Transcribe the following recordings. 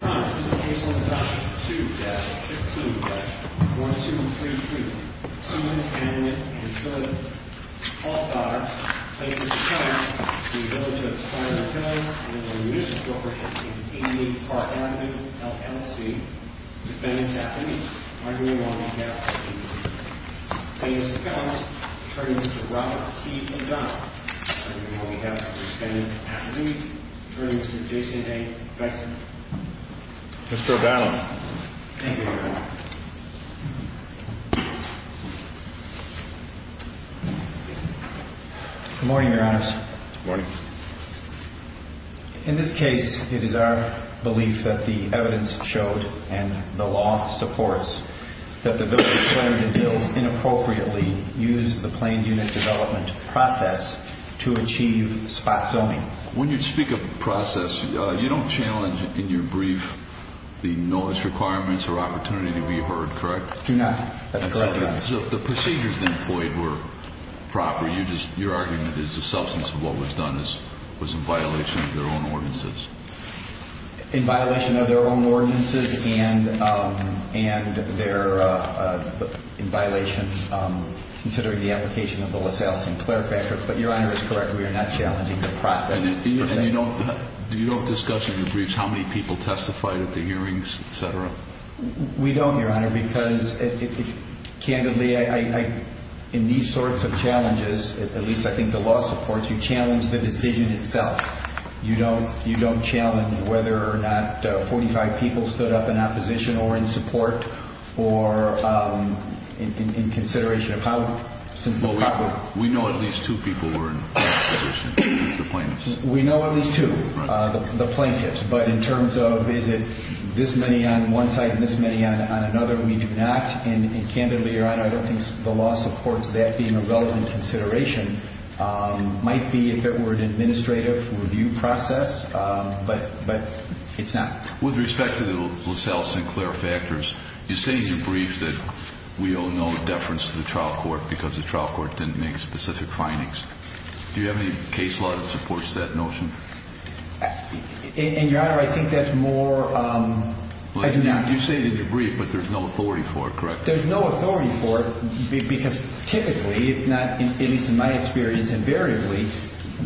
This case on the dot is 2-15-1232. Susan Annan and Phillip Hall-Dodd are plaintiffs' children. They were able to acquire a gun and a munitions broker in 188 Park Avenue, LLC, defendant's affidavit, arguing on behalf of the defendants' families. Attorney Mr. Robert T. O'Donnell, arguing on behalf of the defendants' families. Attorney Mr. Jason A. Besson. Mr. O'Donnell. Thank you, Your Honor. Good morning, Your Honors. Good morning. In this case, it is our belief that the evidence showed, and the law supports, that the Village of Clarendon Hills inappropriately used the planned unit development process to achieve spot zoning. When you speak of process, you don't challenge in your brief the notice requirements or opportunity to be heard, correct? Do not. That's correct, Your Honor. So the procedures employed were proper. Your argument is the substance of what was done was in violation of their own ordinances. In violation of their own ordinances and in violation, considering the application of the LaSalle-St. Clair factors. But Your Honor is correct, we are not challenging the process. And you don't discuss in your briefs how many people testified at the hearings, et cetera? We don't, Your Honor, because candidly, in these sorts of challenges, at least I think the law supports, you challenge the decision itself. You don't challenge whether or not 45 people stood up in opposition or in support or in consideration of how, since the proper. We know at least two people were in opposition, the plaintiffs. We know at least two, the plaintiffs. But in terms of is it this many on one side and this many on another, we do not. And candidly, Your Honor, I don't think the law supports that being a relevant consideration. Might be if it were an administrative review process, but it's not. With respect to the LaSalle-St. Clair factors, you say in your briefs that we owe no deference to the trial court because the trial court didn't make specific findings. Do you have any case law that supports that notion? And Your Honor, I think that's more. You say it in your brief, but there's no authority for it, correct? There's no authority for it because typically, if not at least in my experience invariably,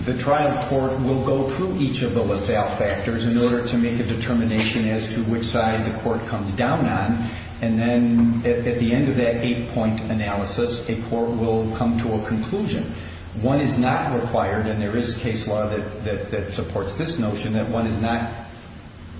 the trial court will go through each of the LaSalle factors in order to make a determination as to which side the court comes down on. And then at the end of that eight point analysis, a court will come to a conclusion. One is not required, and there is case law that supports this notion, that one is not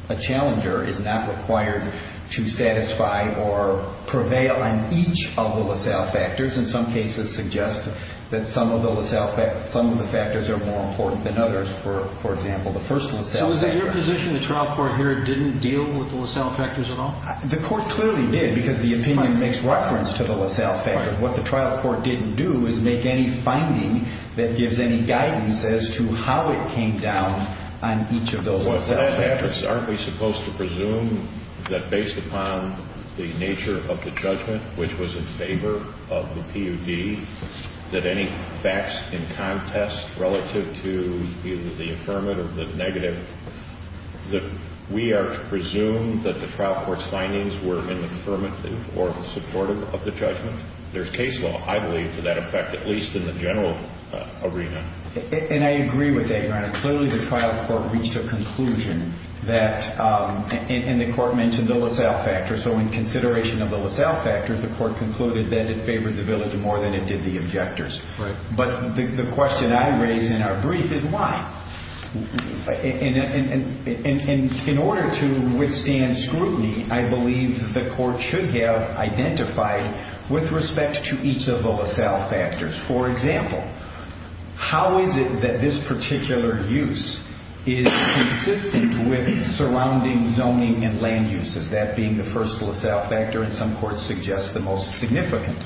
a challenger, is not required to satisfy or prevail on each of the LaSalle factors. And some cases suggest that some of the factors are more important than others. For example, the first LaSalle factor. So is it your position the trial court here didn't deal with the LaSalle factors at all? The court clearly did because the opinion makes reference to the LaSalle factors. What the trial court didn't do is make any finding that gives any guidance as to how it came down on each of those LaSalle factors. Aren't we supposed to presume that based upon the nature of the judgment, which was in favor of the PUD, that any facts in contest relative to either the affirmative or the negative, that we are to presume that the trial court's findings were in the affirmative or supportive of the judgment? There's case law, I believe, to that effect, at least in the general arena. And I agree with that, Your Honor. Clearly the trial court reached a conclusion that – and the court mentioned the LaSalle factors. So in consideration of the LaSalle factors, the court concluded that it favored the village more than it did the objectors. Right. But the question I raise in our brief is why. In order to withstand scrutiny, I believe the court should have identified with respect to each of the LaSalle factors. For example, how is it that this particular use is consistent with surrounding zoning and land uses, that being the first LaSalle factor and some courts suggest the most significant?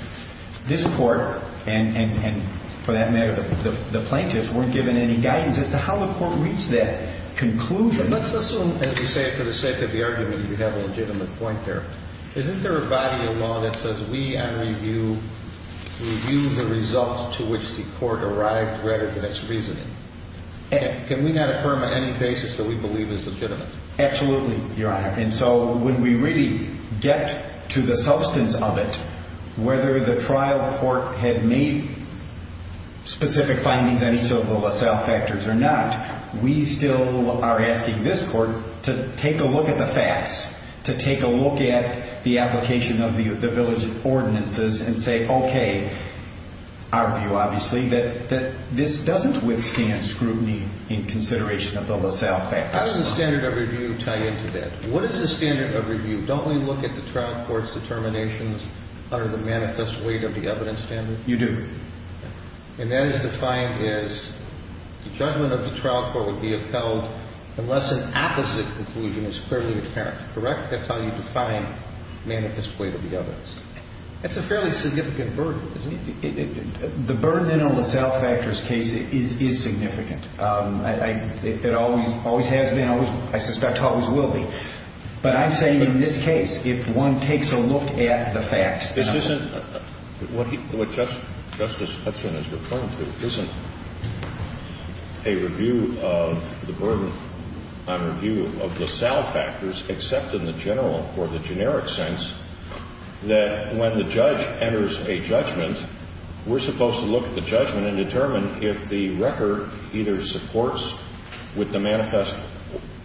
This court and, for that matter, the plaintiffs weren't given any guidance as to how the court reached that conclusion. Let's assume, as you say, for the sake of the argument, you have a legitimate point there. Isn't there a body of law that says we, on review, review the results to which the court arrived rather than its reasoning? Can we not affirm on any basis that we believe is legitimate? Absolutely, Your Honor. And so when we really get to the substance of it, whether the trial court had made specific findings on each of the LaSalle factors or not, we still are asking this court to take a look at the facts, to take a look at the application of the village ordinances and say, okay, our view, obviously, that this doesn't withstand scrutiny in consideration of the LaSalle factors. How does the standard of review tie into that? What is the standard of review? Don't we look at the trial court's determinations under the manifest weight of the evidence standard? You do. And that is defined as the judgment of the trial court would be upheld unless an opposite conclusion is clearly apparent. Correct? That's how you define manifest weight of the evidence. That's a fairly significant burden, isn't it? The burden in a LaSalle factors case is significant. It always has been. I suspect always will be. But I'm saying in this case, if one takes a look at the facts. This isn't what Justice Hudson is referring to. This isn't a review of the burden on review of LaSalle factors, except in the general or the generic sense that when the judge enters a judgment, we're supposed to look at the judgment and determine if the record either supports with the manifest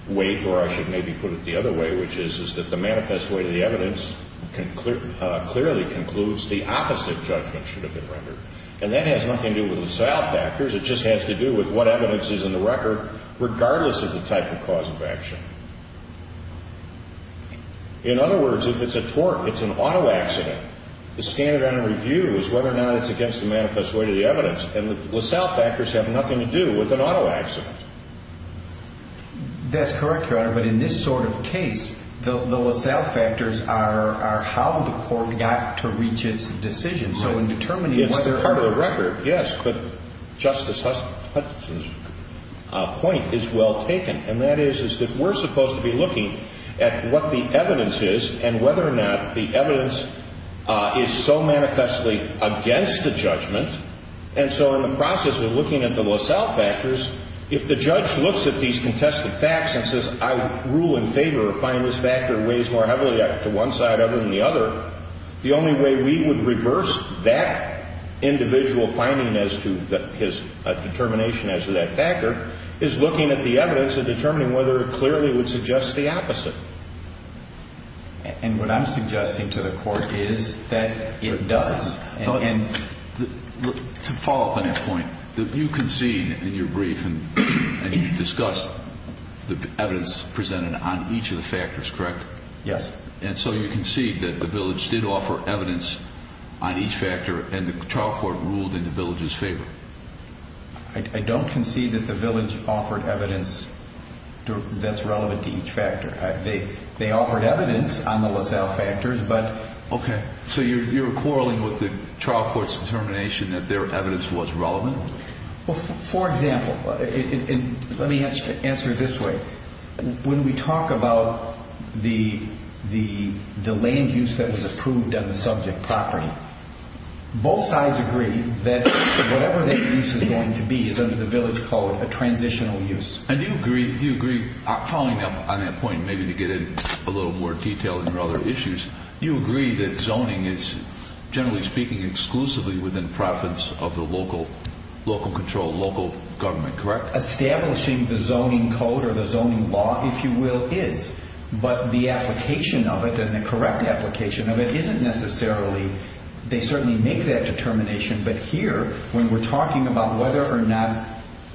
weight, or I should maybe put it the other way, which is that the manifest weight of the evidence clearly concludes the opposite judgment should have been rendered. And that has nothing to do with LaSalle factors. It just has to do with what evidence is in the record, regardless of the type of cause of action. In other words, if it's a tort, it's an auto accident, the standard on review is whether or not it's against the manifest weight of the evidence. And the LaSalle factors have nothing to do with an auto accident. That's correct, Your Honor. But in this sort of case, the LaSalle factors are how the court got to reach its decision. So in determining whether... It's part of the record, yes. But Justice Hudson's point is well taken. And that is, is that we're supposed to be looking at what the evidence is and whether or not the evidence is so manifestly against the judgment. And so in the process of looking at the LaSalle factors, if the judge looks at these contested facts and says, I rule in favor of finding this factor weighs more heavily to one side other than the other, the only way we would reverse that individual finding as to his determination as to that factor is looking at the evidence and determining whether it clearly would suggest the opposite. And what I'm suggesting to the court is that it does. To follow up on that point, you concede in your brief and you discussed the evidence presented on each of the factors, correct? Yes. And so you concede that the village did offer evidence on each factor and the trial court ruled in the village's favor. I don't concede that the village offered evidence that's relevant to each factor. They offered evidence on the LaSalle factors, but. Okay. So you're quarreling with the trial court's determination that their evidence was relevant? Well, for example, let me answer it this way. When we talk about the land use that was approved on the subject property, both sides agree that whatever that use is going to be is under the village code a transitional use. And do you agree, following up on that point, maybe to get in a little more detail on your other issues, you agree that zoning is, generally speaking, exclusively within preference of the local control, local government, correct? Establishing the zoning code or the zoning law, if you will, is. But the application of it and the correct application of it isn't necessarily. They certainly make that determination. But here, when we're talking about whether or not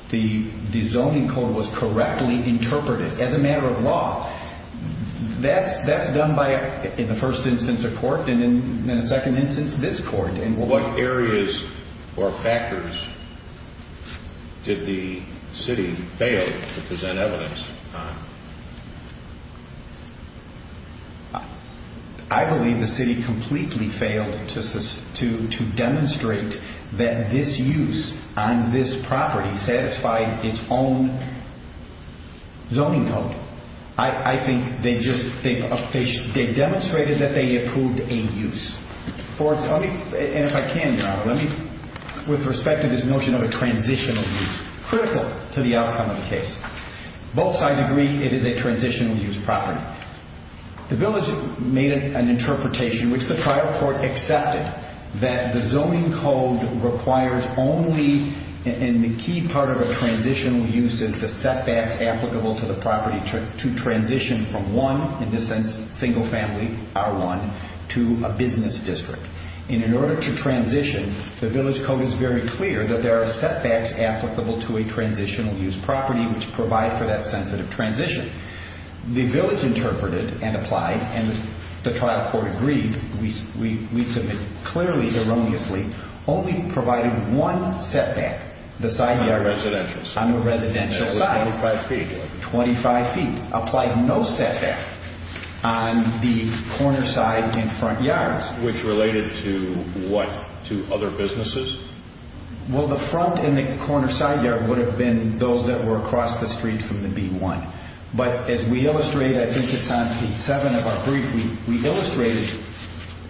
the zoning code was correctly interpreted as a matter of law, that's done by, in the first instance, a court, and in the second instance, this court. What areas or factors did the city fail to present evidence on? I believe the city completely failed to demonstrate that this use on this property satisfied its own zoning code. I think they demonstrated that they approved a use. And if I can, Your Honor, with respect to this notion of a transitional use, critical to the outcome of the case, both sides agree it is a transitional use property. The village made an interpretation which the trial court accepted, that the zoning code requires only, and the key part of a transitional use is the setbacks applicable to the property, to transition from one, in this sense, single family, our one, to a business district. And in order to transition, the village code is very clear that there are setbacks applicable to a transitional use property which provide for that sensitive transition. The village interpreted and applied, and the trial court agreed, we submit clearly, erroneously, only provided one setback. On the residential side. On the residential side. That was 25 feet. 25 feet. Applied no setback on the corner side and front yards. Which related to what? To other businesses? Well, the front and the corner side yard would have been those that were across the street from the B1. But as we illustrate, I think it's on page 7 of our brief, we illustrated,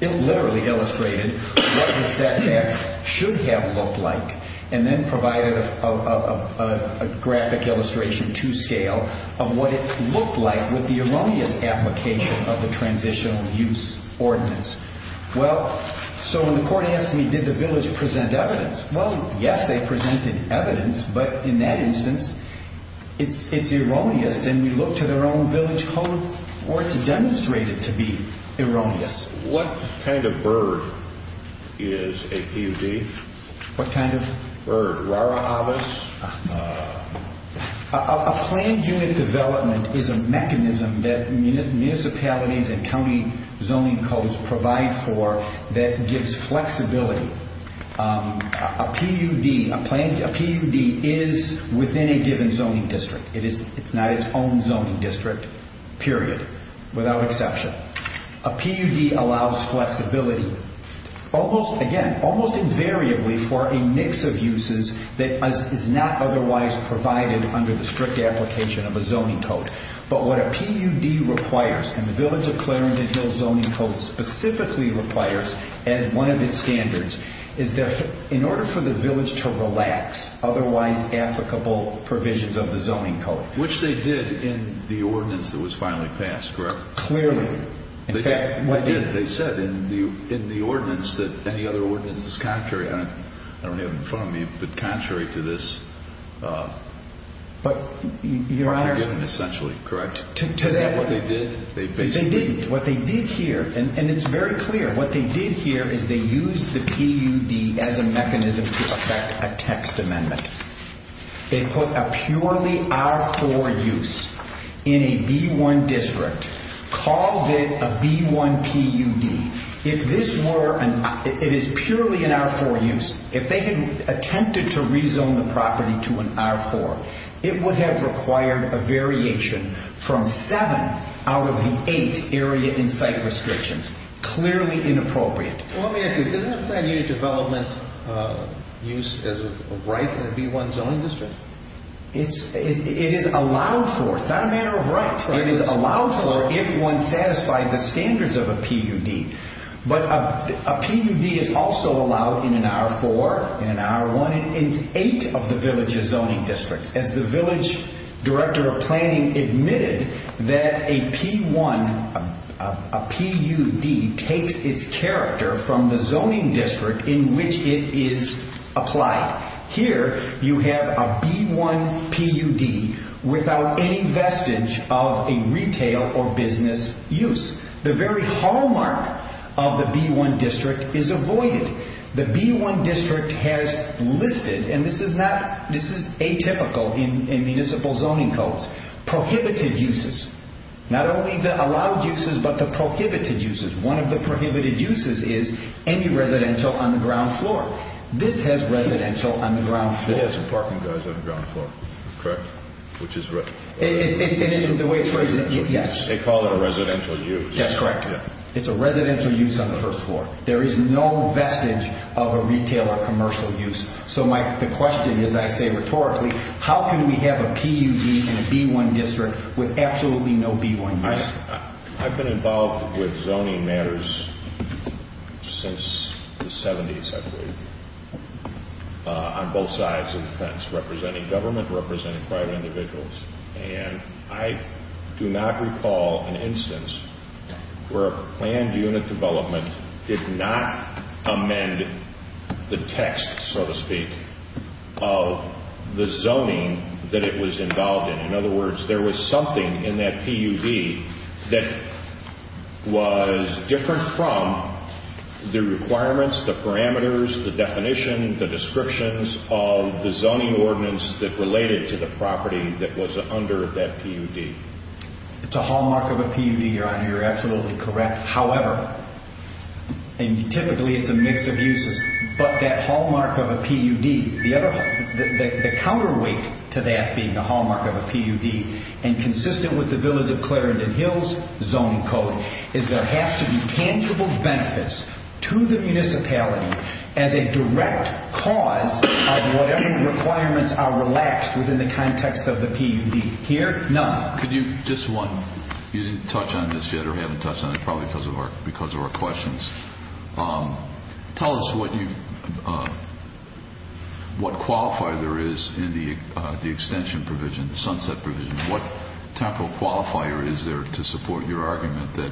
literally illustrated, what the setback should have looked like, and then provided a graphic illustration to scale of what it looked like with the erroneous application of the transitional use ordinance. Well, so when the court asked me, did the village present evidence? Well, yes, they presented evidence, but in that instance, it's erroneous, and we look to their own village code where it's demonstrated to be erroneous. What kind of bird is a PUD? What kind of? Bird, rara abbas? A planned unit development is a mechanism that municipalities and county zoning codes provide for that gives flexibility. A PUD, a planned, a PUD is within a given zoning district. It's not its own zoning district, period, without exception. A PUD allows flexibility almost, again, almost invariably for a mix of uses that is not otherwise provided under the strict application of a zoning code. But what a PUD requires, and the Village of Clarendon Hill zoning code specifically requires as one of its standards, is that in order for the village to relax otherwise applicable provisions of the zoning code. Which they did in the ordinance that was finally passed, correct? Clearly. They did. They said in the ordinance that any other ordinance is contrary. I don't have it in front of me, but contrary to this. But, Your Honor. Essentially, correct? To that, what they did, they basically. They didn't. And it's very clear. What they did here is they used the PUD as a mechanism to affect a text amendment. They put a purely R4 use in a B1 district, called it a B1 PUD. If this were, it is purely an R4 use, if they had attempted to rezone the property to an R4, it would have required a variation from seven out of the eight area and site restrictions. Clearly inappropriate. Well, let me ask you, isn't a plan unit development used as a right in a B1 zoning district? It is allowed for. It's not a matter of right. It is allowed for if one satisfied the standards of a PUD. But a PUD is also allowed in an R4, in an R1, in eight of the village's zoning districts. As the village director of planning admitted that a PUD takes its character from the zoning district in which it is applied. Here, you have a B1 PUD without any vestige of a retail or business use. The very hallmark of the B1 district is avoided. The B1 district has listed, and this is atypical in municipal zoning codes, prohibited uses. Not only the allowed uses, but the prohibited uses. One of the prohibited uses is any residential on the ground floor. This has residential on the ground floor. It has parking guys on the ground floor. Correct? Which is residential. Yes. They call it a residential use. That's correct. It's a residential use on the first floor. There is no vestige of a retail or commercial use. So, Mike, the question is, I say rhetorically, how can we have a PUD in a B1 district with absolutely no B1 use? I've been involved with zoning matters since the 70s, I believe, on both sides of the fence, representing government, representing private individuals. And I do not recall an instance where a planned unit development did not amend the text, so to speak, of the zoning that it was involved in. In other words, there was something in that PUD that was different from the requirements, the parameters, the definition, the descriptions of the zoning ordinance that related to the property that was under that PUD. It's a hallmark of a PUD, Your Honor. You're absolutely correct. However, and typically it's a mix of uses, but that hallmark of a PUD, the counterweight to that being the hallmark of a PUD and consistent with the Village of Clarendon Hills Zone Code is there has to be tangible benefits to the municipality as a direct cause of whatever requirements are relaxed within the context of the PUD. Here, none. Just one. You didn't touch on this yet or haven't touched on it, probably because of our questions. Tell us what qualifier there is in the extension provision, the sunset provision. What temporal qualifier is there to support your argument that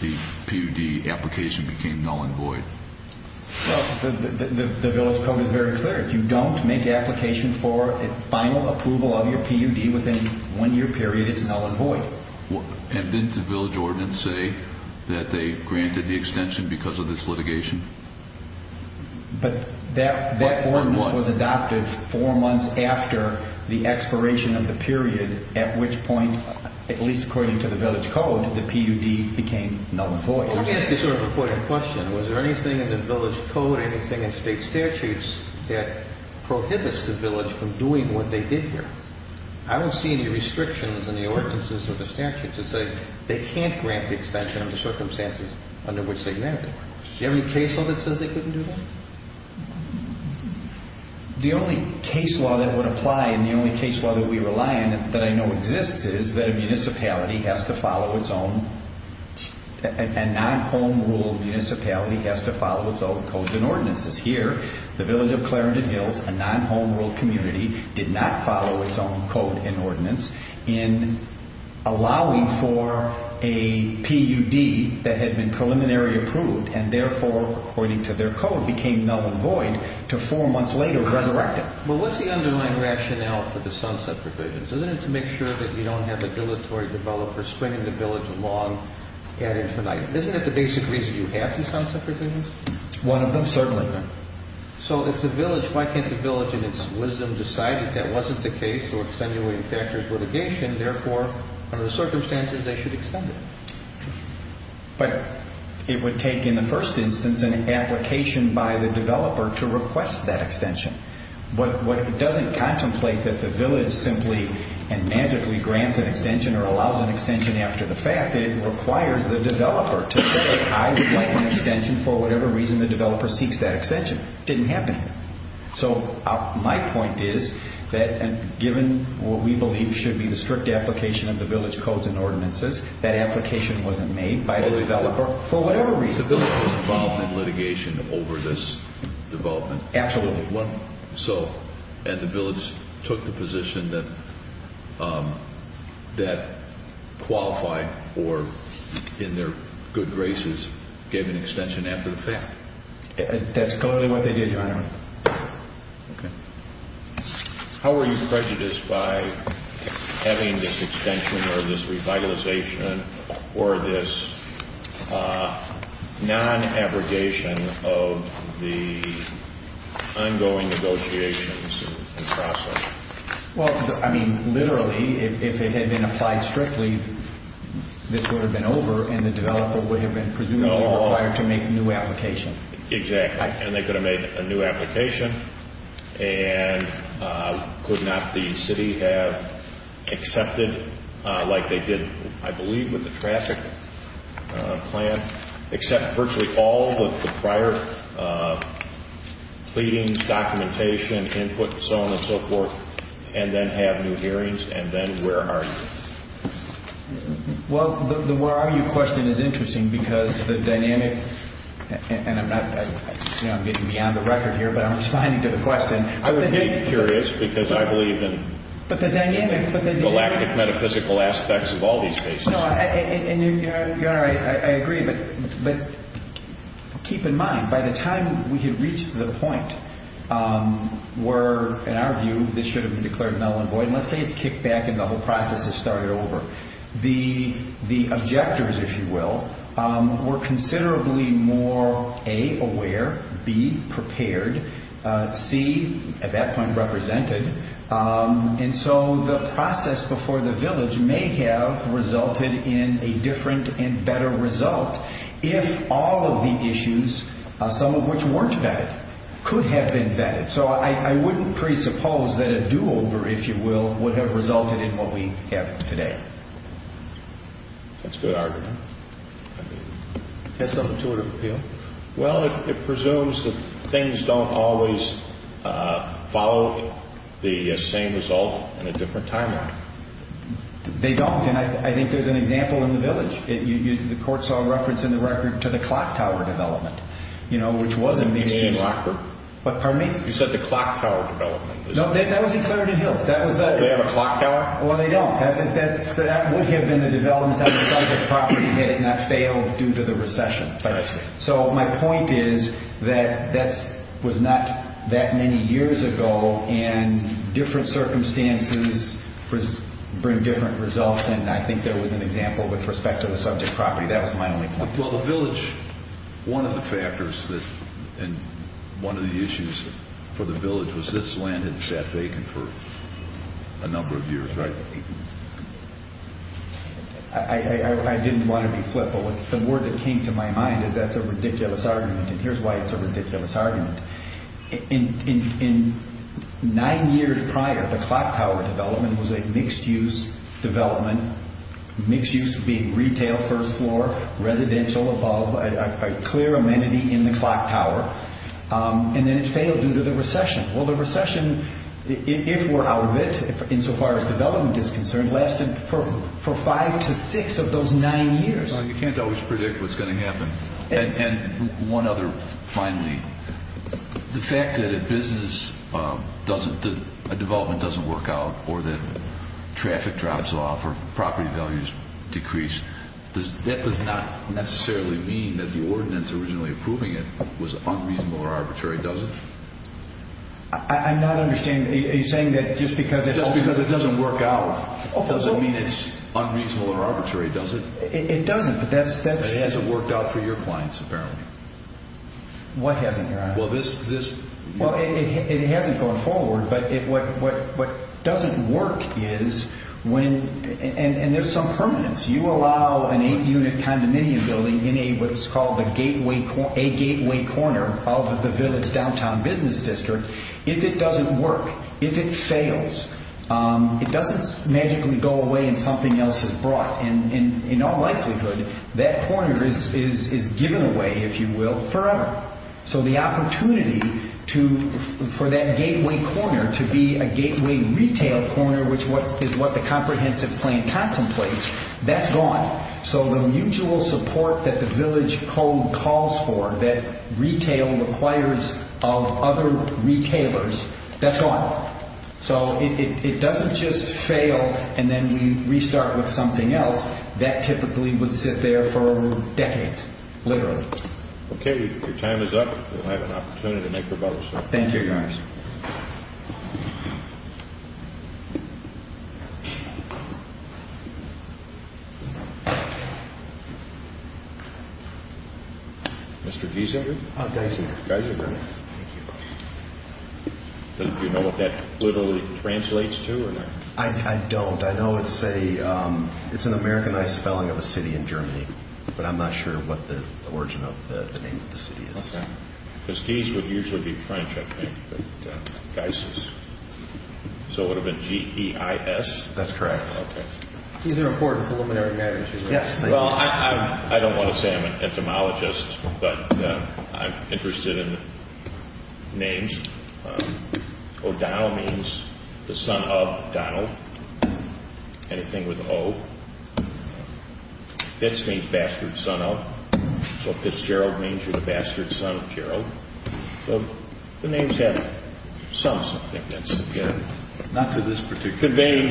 the PUD application became null and void? The Village Code is very clear. If you don't make the application for final approval of your PUD within one year period, it's null and void. And didn't the Village ordinance say that they granted the extension because of this litigation? But that ordinance was adopted four months after the expiration of the period, at which point, at least according to the Village Code, the PUD became null and void. Let me ask you a sort of important question. Was there anything in the Village Code, anything in state statutes that prohibits the Village from doing what they did here? I don't see any restrictions in the ordinances or the statutes that say they can't grant the extension under the circumstances under which they granted it. Do you have any case law that says they couldn't do that? The only case law that would apply and the only case law that we rely on that I know exists is that a municipality has to follow its own, a non-home rule municipality has to follow its own codes and ordinances. Here, the Village of Clarendon Hills, a non-home rule community, did not follow its own code and ordinance in allowing for a PUD that had been preliminary approved and therefore, according to their code, became null and void to four months later resurrect it. Well, what's the underlying rationale for the sunset provisions? Isn't it to make sure that you don't have the regulatory developer springing the Village along ad infinitum? Isn't that the basic reason you have the sunset provisions? One of them, certainly. So if the Village, why can't the Village in its wisdom decide that that wasn't the case or extenuating factors litigation, therefore, under the circumstances, they should extend it? But it would take, in the first instance, an application by the developer to request that extension. What it doesn't contemplate that the Village simply and magically grants an extension or allows an extension after the fact, it requires the developer to say, I would like an extension for whatever reason the developer seeks that extension. It didn't happen. So my point is that given what we believe should be the strict application of the Village codes and ordinances, that application wasn't made by the developer for whatever reason. The Village was involved in litigation over this development? Absolutely. So, and the Village took the position that qualified or, in their good graces, gave an extension after the fact? That's clearly what they did, Your Honor. Okay. How are you prejudiced by having this extension or this revitalization or this non-abrogation of the ongoing negotiations and process? Well, I mean, literally, if it had been applied strictly, this would have been over and the developer would have been presumably required to make a new application. Exactly. And they could have made a new application and could not the City have accepted like they did, I believe, with the traffic plan, accept virtually all of the prior pleadings, documentation, input, so on and so forth, and then have new hearings and then where are you? Well, the where are you question is interesting because the dynamic, and I'm not, you know, I'm getting beyond the record here, but I'm responding to the question. I would be curious because I believe in galactic metaphysical aspects of all these cases. No, and Your Honor, I agree, but keep in mind, by the time we had reached the point where, in our view, this should have been declared null and void, and let's say it's kicked back and the whole process has started over, the objectors, if you will, were considerably more, A, aware, B, prepared, C, at that point, represented, and so the process before the village may have resulted in a different and better result if all of the issues, some of which weren't vetted, could have been vetted. So I wouldn't presuppose that a do-over, if you will, would have resulted in what we have today. That's a good argument. Has something to it of appeal? Well, it presumes that things don't always follow the same result in a different timeline. They don't, and I think there's an example in the village. The court saw a reference in the record to the clock tower development, you know, which was an extreme example. What, pardon me? You said the clock tower development. No, that was in Clarendon Hills. Do they have a clock tower? Well, they don't. That would have been the development on the subject property had it not failed due to the recession. So my point is that that was not that many years ago, and different circumstances bring different results, and I think there was an example with respect to the subject property. That was my only point. Well, the village, one of the factors and one of the issues for the village was this land had sat vacant for a number of years, right? I didn't want to be flip, but the word that came to my mind is that's a ridiculous argument, and here's why it's a ridiculous argument. In nine years prior, the clock tower development was a mixed-use development, mixed-use being retail, first floor, residential, above, a clear amenity in the clock tower, and then it failed due to the recession. Well, the recession, if we're out of it, insofar as development is concerned, lasted for five to six of those nine years. Well, you can't always predict what's going to happen. And one other, finally, the fact that a business doesn't, a development doesn't work out or that traffic drops off or property values decrease, that does not necessarily mean that the ordinance originally approving it was unreasonable or arbitrary, does it? I'm not understanding. Are you saying that just because it doesn't work out doesn't mean it's unreasonable or arbitrary, does it? It doesn't. But it hasn't worked out for your clients, apparently. What hasn't, Your Honor? Well, this- Well, it hasn't gone forward, but what doesn't work is when- and there's some permanence. You allow an eight-unit condominium building in what's called a gateway corner of the village downtown business district. If it doesn't work, if it fails, it doesn't magically go away and something else is brought. And in all likelihood, that corner is given away, if you will, forever. So the opportunity for that gateway corner to be a gateway retail corner, which is what the comprehensive plan contemplates, that's gone. So the mutual support that the village code calls for, that retail requires of other retailers, that's gone. So it doesn't just fail and then we restart with something else. That typically would sit there for decades, literally. Okay. Your time is up. We'll have an opportunity to make rebuttals. Thank you, Your Honor. Mr. Giesinger? Geiser. Geiser, go ahead. Thank you. Do you know what that literally translates to? I don't. I know it's an Americanized spelling of a city in Germany, but I'm not sure what the origin of the name of the city is. Okay. Because Geis would usually be French, I think, but Geises. So it would have been G-E-I-S? That's correct. Okay. These are important preliminary matters. Yes, thank you. Well, I don't want to say I'm an entomologist, but I'm interested in names. O'Donnell means the son of Donald. Anything with O. Fitz means bastard son of. So Fitzgerald means you're the bastard son of Gerald. So the names have some significance. Convey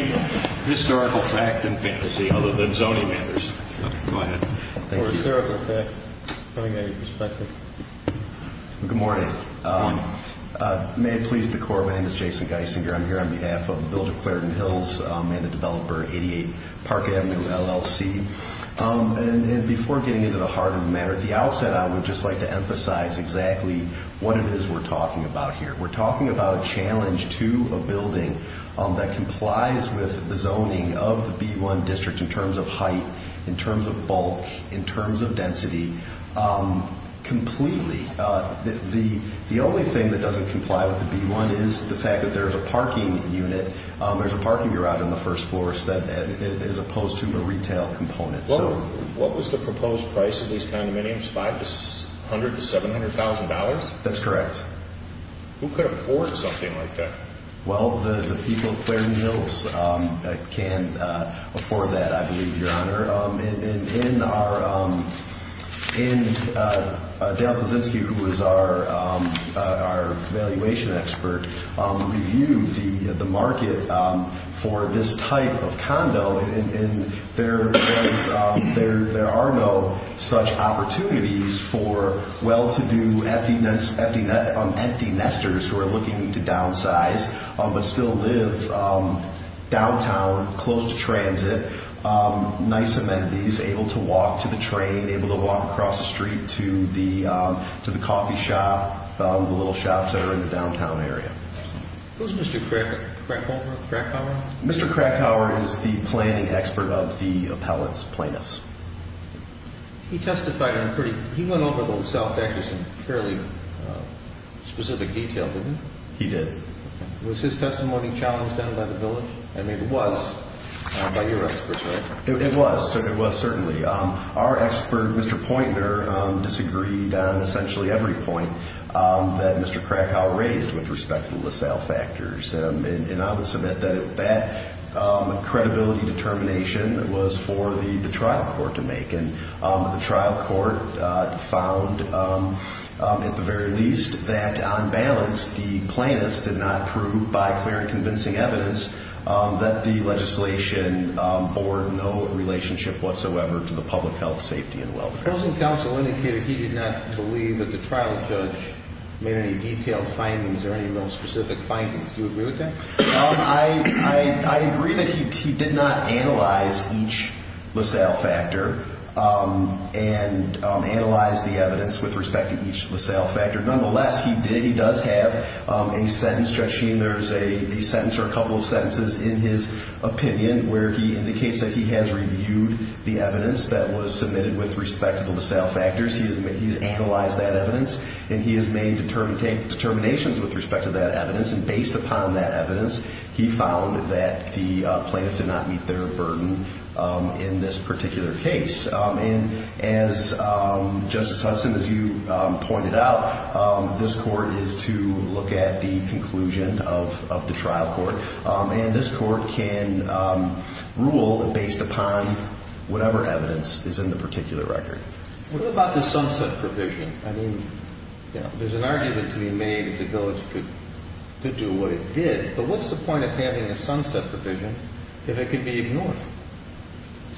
historical fact and fantasy other than zoning matters. Go ahead. Historical fact, depending on your perspective. Good morning. Good morning. May it please the Court, my name is Jason Geisinger. I'm here on behalf of the builder Clareton Hills and the developer 88 Park Avenue, LLC. And before getting into the heart of the matter, at the outset, I would just like to emphasize exactly what it is we're talking about here. We're talking about a challenge to a building that complies with the zoning of the B-1 district in terms of height, in terms of bulk, in terms of density, completely. The only thing that doesn't comply with the B-1 is the fact that there's a parking unit, there's a parking garage on the first floor, as opposed to a retail component. What was the proposed price of these condominiums, $500,000 to $700,000? That's correct. Who could afford something like that? Well, the people of Clareton Hills can afford that, I believe, Your Honor. And Dale Kocinski, who is our valuation expert, reviewed the market for this type of condo, and there are no such opportunities for well-to-do empty nesters who are looking to downsize but still live downtown, close to transit, nice amenities, able to walk to the train, able to walk across the street to the coffee shop, the little shops that are in the downtown area. Who's Mr. Krakauer? Mr. Krakauer is the planning expert of the appellant's plaintiffs. He testified on pretty – he went over those self-factors in fairly specific detail, didn't he? He did. Was his testimony challenged then by the village? I mean, it was by your experts, right? It was. It was, certainly. Our expert, Mr. Poitner, disagreed on essentially every point that Mr. Krakauer raised with respect to the sale factors. And I would submit that that credibility determination was for the trial court to make. And the trial court found, at the very least, that on balance the plaintiffs did not prove by clear and convincing evidence that the legislation bore no relationship whatsoever to the public health, safety, and welfare. Counsel indicated he did not believe that the trial judge made any detailed findings or any real specific findings. Do you agree with that? I agree that he did not analyze each LaSalle factor and analyze the evidence with respect to each LaSalle factor. Nonetheless, he did – he does have a sentence. Judge Sheen, there's a sentence or a couple of sentences in his opinion where he indicates that he has reviewed the evidence that was submitted with respect to the LaSalle factors. He's analyzed that evidence and he has made determinations with respect to that evidence. And based upon that evidence, he found that the plaintiffs did not meet their burden in this particular case. And as Justice Hudson, as you pointed out, this court is to look at the conclusion of the trial court. And this court can rule based upon whatever evidence is in the particular record. What about the sunset provision? I mean, you know, there's an argument to be made that the village could do what it did. But what's the point of having a sunset provision if it could be ignored?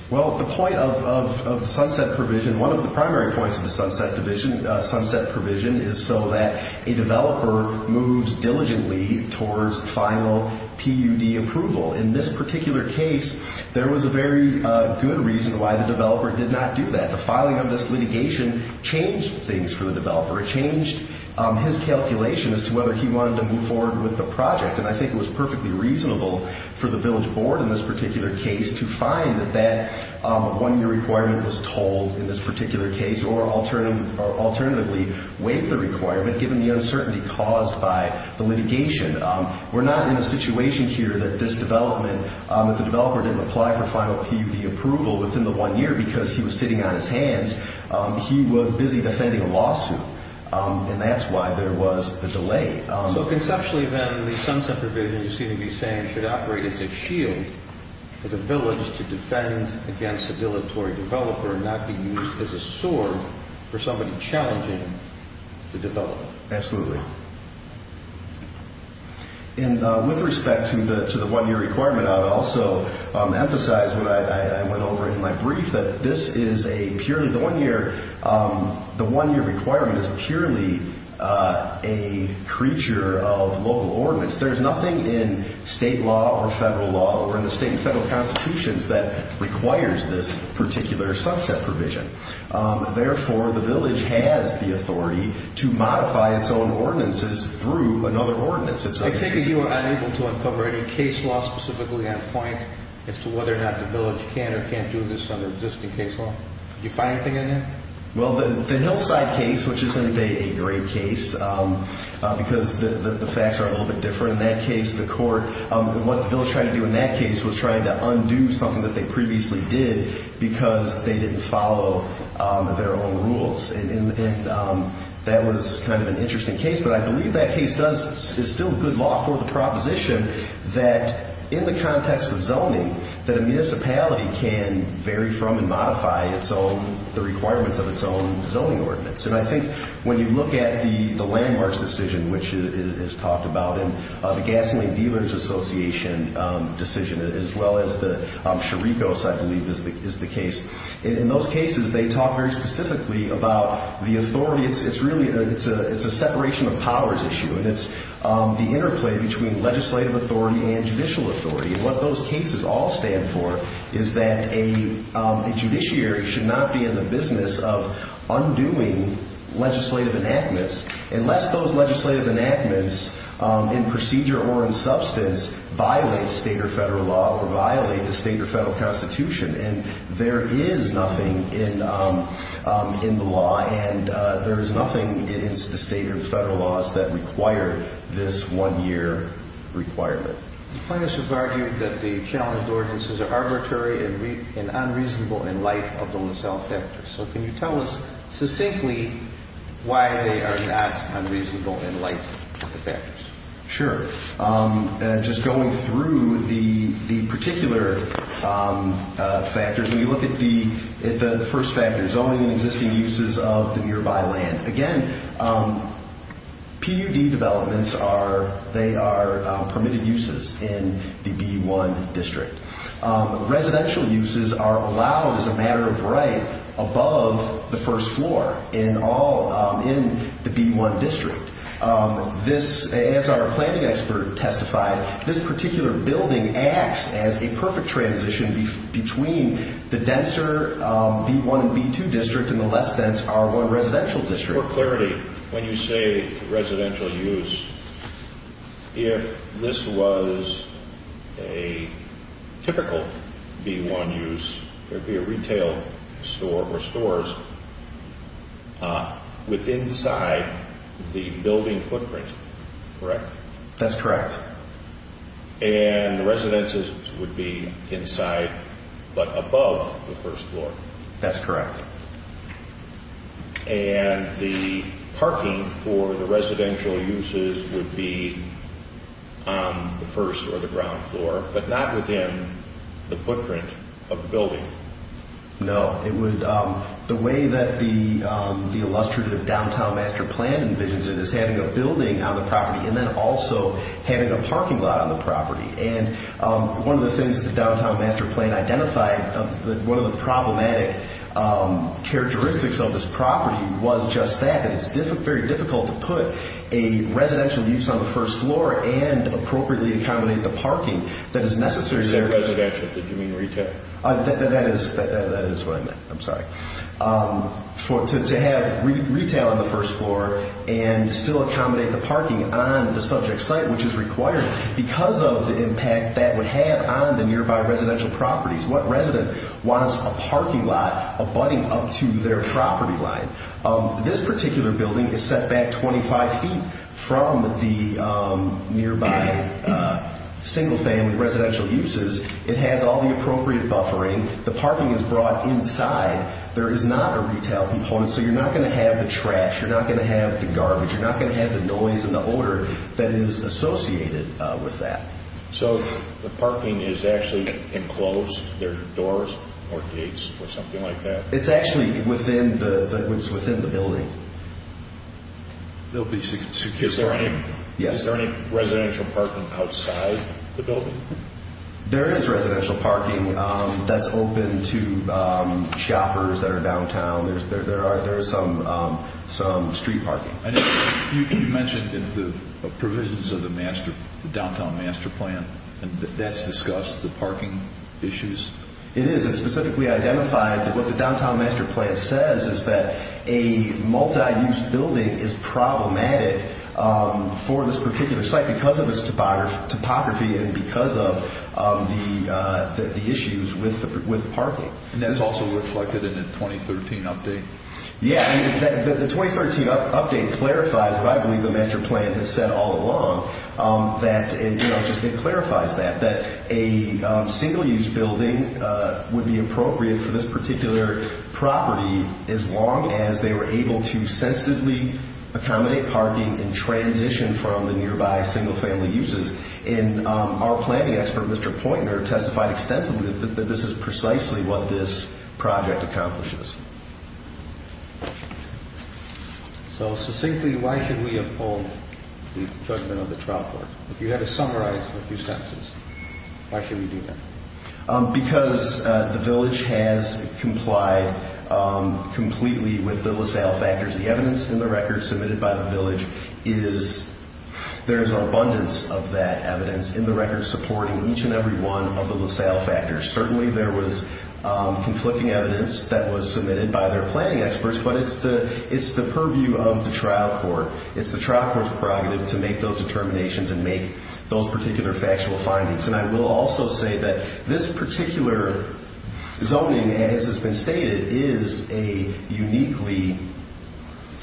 Well, the point of the sunset provision, one of the primary points of the sunset provision is so that a developer moves diligently towards final PUD approval. In this particular case, there was a very good reason why the developer did not do that. The filing of this litigation changed things for the developer. It changed his calculation as to whether he wanted to move forward with the project. And I think it was perfectly reasonable for the village board in this particular case to find that that one-year requirement was told in this particular case or alternatively waive the requirement given the uncertainty caused by the litigation. We're not in a situation here that this development, that the developer didn't apply for final PUD approval within the one year because he was sitting on his hands. He was busy defending a lawsuit. And that's why there was a delay. So conceptually, then, the sunset provision, you seem to be saying, should operate as a shield for the village to defend against a dilatory developer and not be used as a sword for somebody challenging the developer. Absolutely. And with respect to the one-year requirement, I would also emphasize when I went over it in my brief that this is a purely, the one-year requirement is purely a creature of local ordinance. There's nothing in state law or federal law or in the state and federal constitutions that requires this particular sunset provision. Therefore, the village has the authority to modify its own ordinances through another ordinance. I take it you were unable to uncover any case law specifically on point as to whether or not the village can or can't do this under existing case law. Did you find anything in there? Well, the Hillside case, which isn't a great case because the facts are a little bit different in that case. What the village tried to do in that case was try to undo something that they previously did because they didn't follow their own rules. And that was kind of an interesting case. But I believe that case is still good law for the proposition that in the context of zoning, that a municipality can vary from and modify the requirements of its own zoning ordinance. And I think when you look at the Landmarks decision, which is talked about in the Gasoline Dealers Association decision, as well as the Chiricos, I believe is the case. In those cases, they talk very specifically about the authority. It's really a separation of powers issue. And it's the interplay between legislative authority and judicial authority. And what those cases all stand for is that a judiciary should not be in the business of undoing legislative enactments unless those legislative enactments in procedure or in substance violate state or federal law or violate the state or federal constitution. And there is nothing in the law, and there is nothing in the state or the federal laws that require this one-year requirement. The plaintiffs have argued that the challenge ordinances are arbitrary and unreasonable in light of the LaSalle factors. So can you tell us succinctly why they are not unreasonable in light of the factors? Sure. Just going through the particular factors, when you look at the first factors, zoning and existing uses of the nearby land, again, PUD developments are permitted uses in the B-1 district. Residential uses are allowed as a matter of right above the first floor in the B-1 district. As our planning expert testified, this particular building acts as a perfect transition between the denser B-1 and B-2 district and the less dense R-1 residential district. For clarity, when you say residential use, if this was a typical B-1 use, there would be a retail store or stores with inside the building footprint, correct? That's correct. And the residences would be inside but above the first floor? That's correct. And the parking for the residential uses would be on the first or the ground floor but not within the footprint of the building? No. The way that the illustrative downtown master plan envisions it is having a building on the property and then also having a parking lot on the property. And one of the things the downtown master plan identified, one of the problematic characteristics of this property was just that. It's very difficult to put a residential use on the first floor and appropriately accommodate the parking that is necessary there. You said residential. Did you mean retail? That is what I meant. I'm sorry. To have retail on the first floor and still accommodate the parking on the subject site, which is required because of the impact that would have on the nearby residential properties. What resident wants a parking lot abutting up to their property line? This particular building is set back 25 feet from the nearby single family residential uses. It has all the appropriate buffering. The parking is brought inside. There is not a retail component so you're not going to have the trash. You're not going to have the garbage. You're not going to have the noise and the odor that is associated with that. So the parking is actually enclosed? There are doors or gates or something like that? Is there any residential parking outside the building? There is residential parking that's open to shoppers that are downtown. There is some street parking. You mentioned the provisions of the downtown master plan. That's discussed, the parking issues? It is. It's specifically identified that what the downtown master plan says is that a multi-use building is problematic for this particular site because of its topography and because of the issues with parking. That's also reflected in the 2013 update? The 2013 update clarifies what I believe the master plan has said all along. It clarifies that a single use building would be appropriate for this particular property as long as they were able to sensitively accommodate parking in transition from the nearby single family uses. Our planning expert, Mr. Poynter, testified extensively that this is precisely what this project accomplishes. So, succinctly, why should we uphold the judgment of the trial court? If you had to summarize in a few sentences, why should we do that? Because the village has complied completely with the LaSalle factors. The evidence in the record submitted by the village is, there is an abundance of that evidence in the record supporting each and every one of the LaSalle factors. Certainly, there was conflicting evidence that was submitted by their planning experts, but it's the purview of the trial court. It's the trial court's prerogative to make those determinations and make those particular factual findings. I will also say that this particular zoning, as has been stated, is a uniquely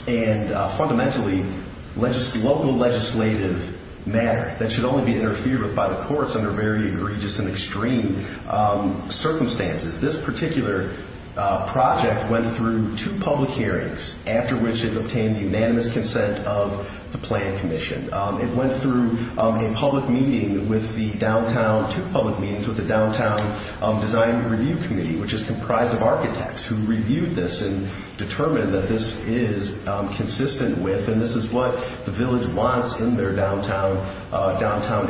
and fundamentally local legislative matter that should only be interfered with by the courts under very egregious and extreme circumstances. This particular project went through two public hearings, after which it obtained the unanimous consent of the plan commission. It went through a public meeting with the downtown, two public meetings with the downtown design review committee, which is comprised of architects who reviewed this and determined that this is consistent with and this is what the village wants in their downtown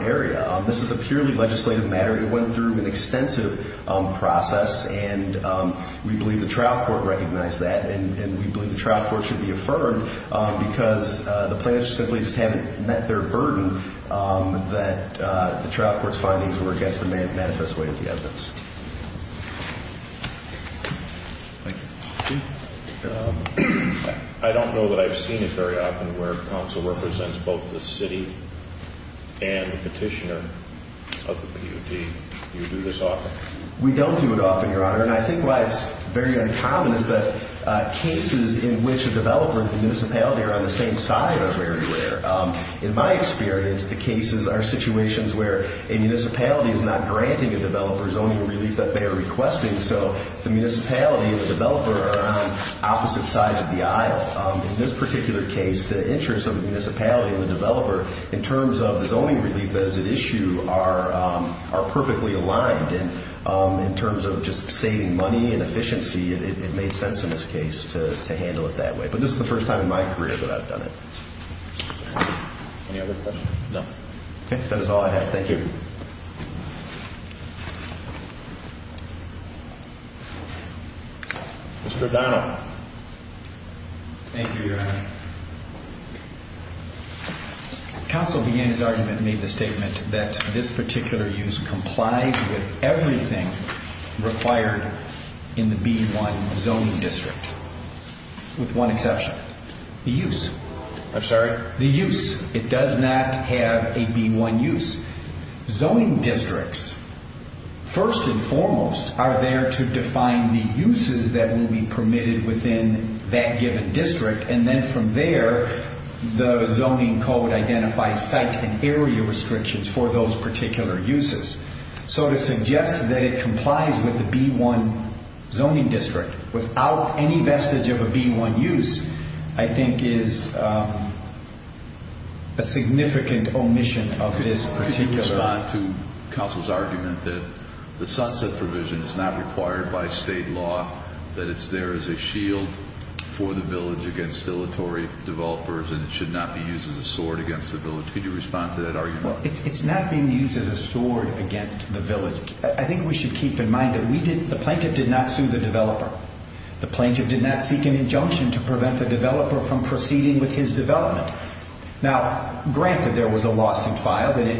area. This is a purely legislative matter. It went through an extensive process, and we believe the trial court recognized that, and we believe the trial court should be affirmed because the planners simply just haven't met their burden that the trial court's findings were against the manifest way of the evidence. I don't know that I've seen it very often where counsel represents both the city and the petitioner of the POT. Do you do this often? We don't do it often, Your Honor, and I think why it's very uncommon is that cases in which a developer of the municipality are on the same side are very rare. In my experience, the cases are situations where a municipality is not granting a developer zoning relief that they are requesting, so the municipality and the developer are on opposite sides of the aisle. In this particular case, the interests of the municipality and the developer in terms of the zoning relief that is at issue are perfectly aligned, and in terms of just saving money and efficiency, it made sense in this case to handle it that way. But this is the first time in my career that I've done it. Any other questions? No. Okay. That is all I have. Thank you. Mr. O'Donnell. Thank you, Your Honor. Counsel, beginning his argument, made the statement that this particular use complies with everything required in the B-1 zoning district, with one exception, the use. I'm sorry? The use. It does not have a B-1 use. Zoning districts, first and foremost, are there to define the uses that will be permitted within that given district, and then from there, the zoning code identifies site and area restrictions for those particular uses. So to suggest that it complies with the B-1 zoning district without any vestige of a B-1 use, I think is a significant omission of this particular. Could you respond to counsel's argument that the sunset provision is not required by state law, that it's there as a shield for the village against villatory developers, and it should not be used as a sword against the village? Could you respond to that argument? I think we should keep in mind that the plaintiff did not sue the developer. The plaintiff did not seek an injunction to prevent the developer from proceeding with his development. Now, granted, there was a lawsuit filed, and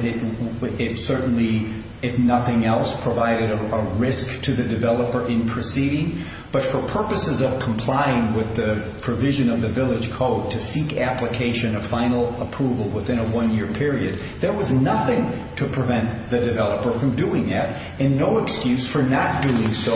it certainly, if nothing else, provided a risk to the developer in proceeding, but for purposes of complying with the provision of the village code to seek application of final approval within a one-year period, there was nothing to prevent the developer from doing that, and no excuse for not doing so,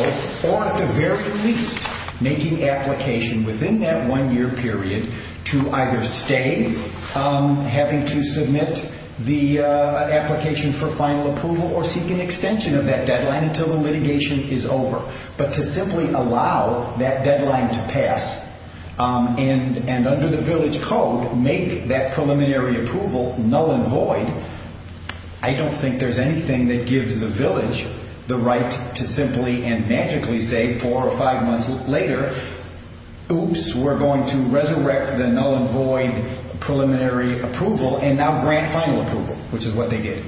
or at the very least, making application within that one-year period to either stay, having to submit the application for final approval, or seek an extension of that deadline until the litigation is over. But to simply allow that deadline to pass, and under the village code, make that preliminary approval null and void, I don't think there's anything that gives the village the right to simply and magically say four or five months later, oops, we're going to resurrect the null and void preliminary approval, and now grant final approval, which is what they did.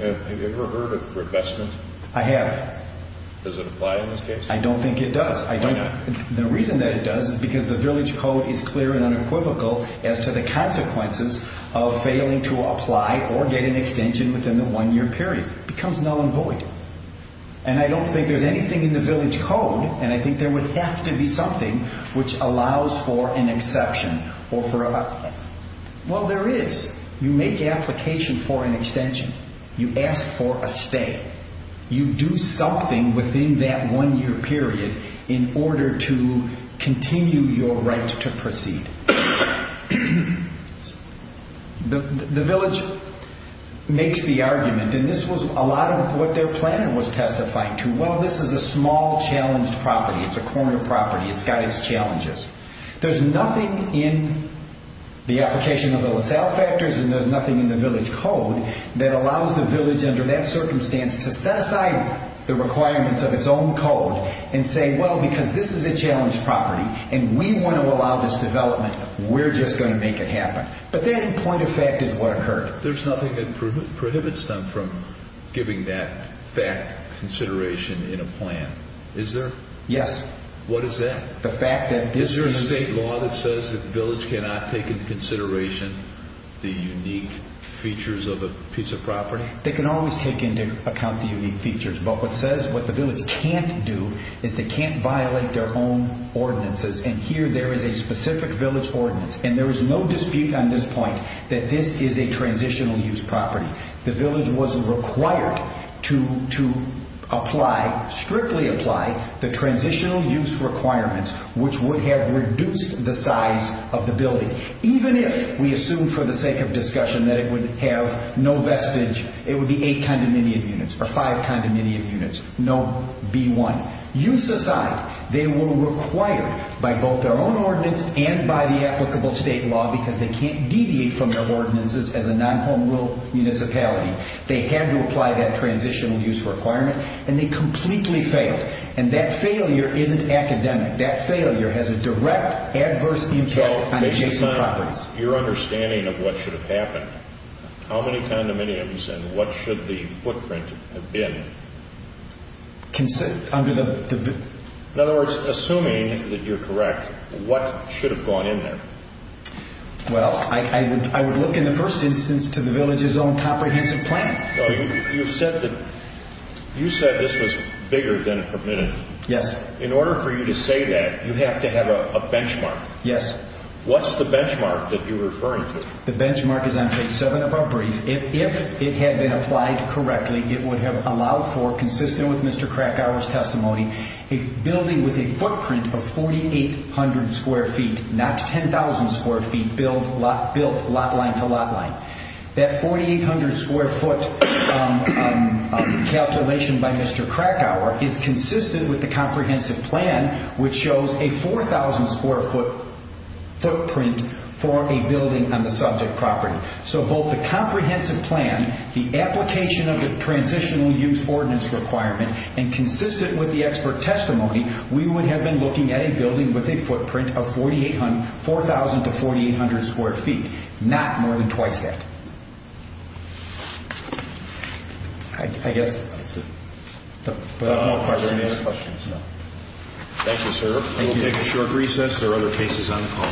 Have you ever heard of revestment? I have. Does it apply in this case? I don't think it does. Why not? The reason that it does is because the village code is clear and unequivocal as to the consequences of failing to apply or get an extension within the one-year period. It becomes null and void. And I don't think there's anything in the village code, and I think there would have to be something which allows for an exception. Well, there is. You make application for an extension. You ask for a stay. You do something within that one-year period in order to continue your right to proceed. The village makes the argument, and this was a lot of what their plan was testifying to. Well, this is a small challenged property. It's a corner property. It's got its challenges. There's nothing in the application of the LaSalle factors and there's nothing in the village code that allows the village under that circumstance to set aside the requirements of its own code and say, well, because this is a challenged property and we want to allow this development, we're just going to make it happen. But that, in point of fact, is what occurred. There's nothing that prohibits them from giving that fact consideration in a plan, is there? Yes. What is that? The fact that this is a state law that says that the village cannot take into consideration the unique features of a piece of property? They can always take into account the unique features, but what the village can't do is they can't violate their own ordinances, and here there is a specific village ordinance, and there is no dispute on this point that this is a transitional-use property. The village was required to apply, strictly apply, the transitional-use requirements, which would have reduced the size of the building. Even if, we assume for the sake of discussion, that it would have no vestige, it would be eight condominium units or five condominium units, no B1. Use aside, they were required by both their own ordinance and by the applicable state law because they can't deviate from their ordinances as a non-home-rule municipality. They had to apply that transitional-use requirement, and they completely failed. And that failure isn't academic. That failure has a direct adverse impact on adjacent properties. So, based on your understanding of what should have happened, how many condominiums and what should the footprint have been? Under the... In other words, assuming that you're correct, what should have gone in there? Well, I would look in the first instance to the village's own comprehensive plan. You said this was bigger than permitted. Yes. In order for you to say that, you have to have a benchmark. Yes. What's the benchmark that you're referring to? The benchmark is on page 7 of our brief. If it had been applied correctly, it would have allowed for, consistent with Mr. Krakauer's testimony, a building with a footprint of 4,800 square feet, not 10,000 square feet, built lot line to lot line. That 4,800 square foot calculation by Mr. Krakauer is consistent with the comprehensive plan, which shows a 4,000 square foot footprint for a building on the subject property. So, both the comprehensive plan, the application of the transitional use ordinance requirement, and consistent with the expert testimony, we would have been looking at a building with a footprint of 4,000 to 4,800 square feet, not more than twice that. I guess that's it. Are there any other questions? Thank you, sir. We'll take a short recess. There are other cases on the call.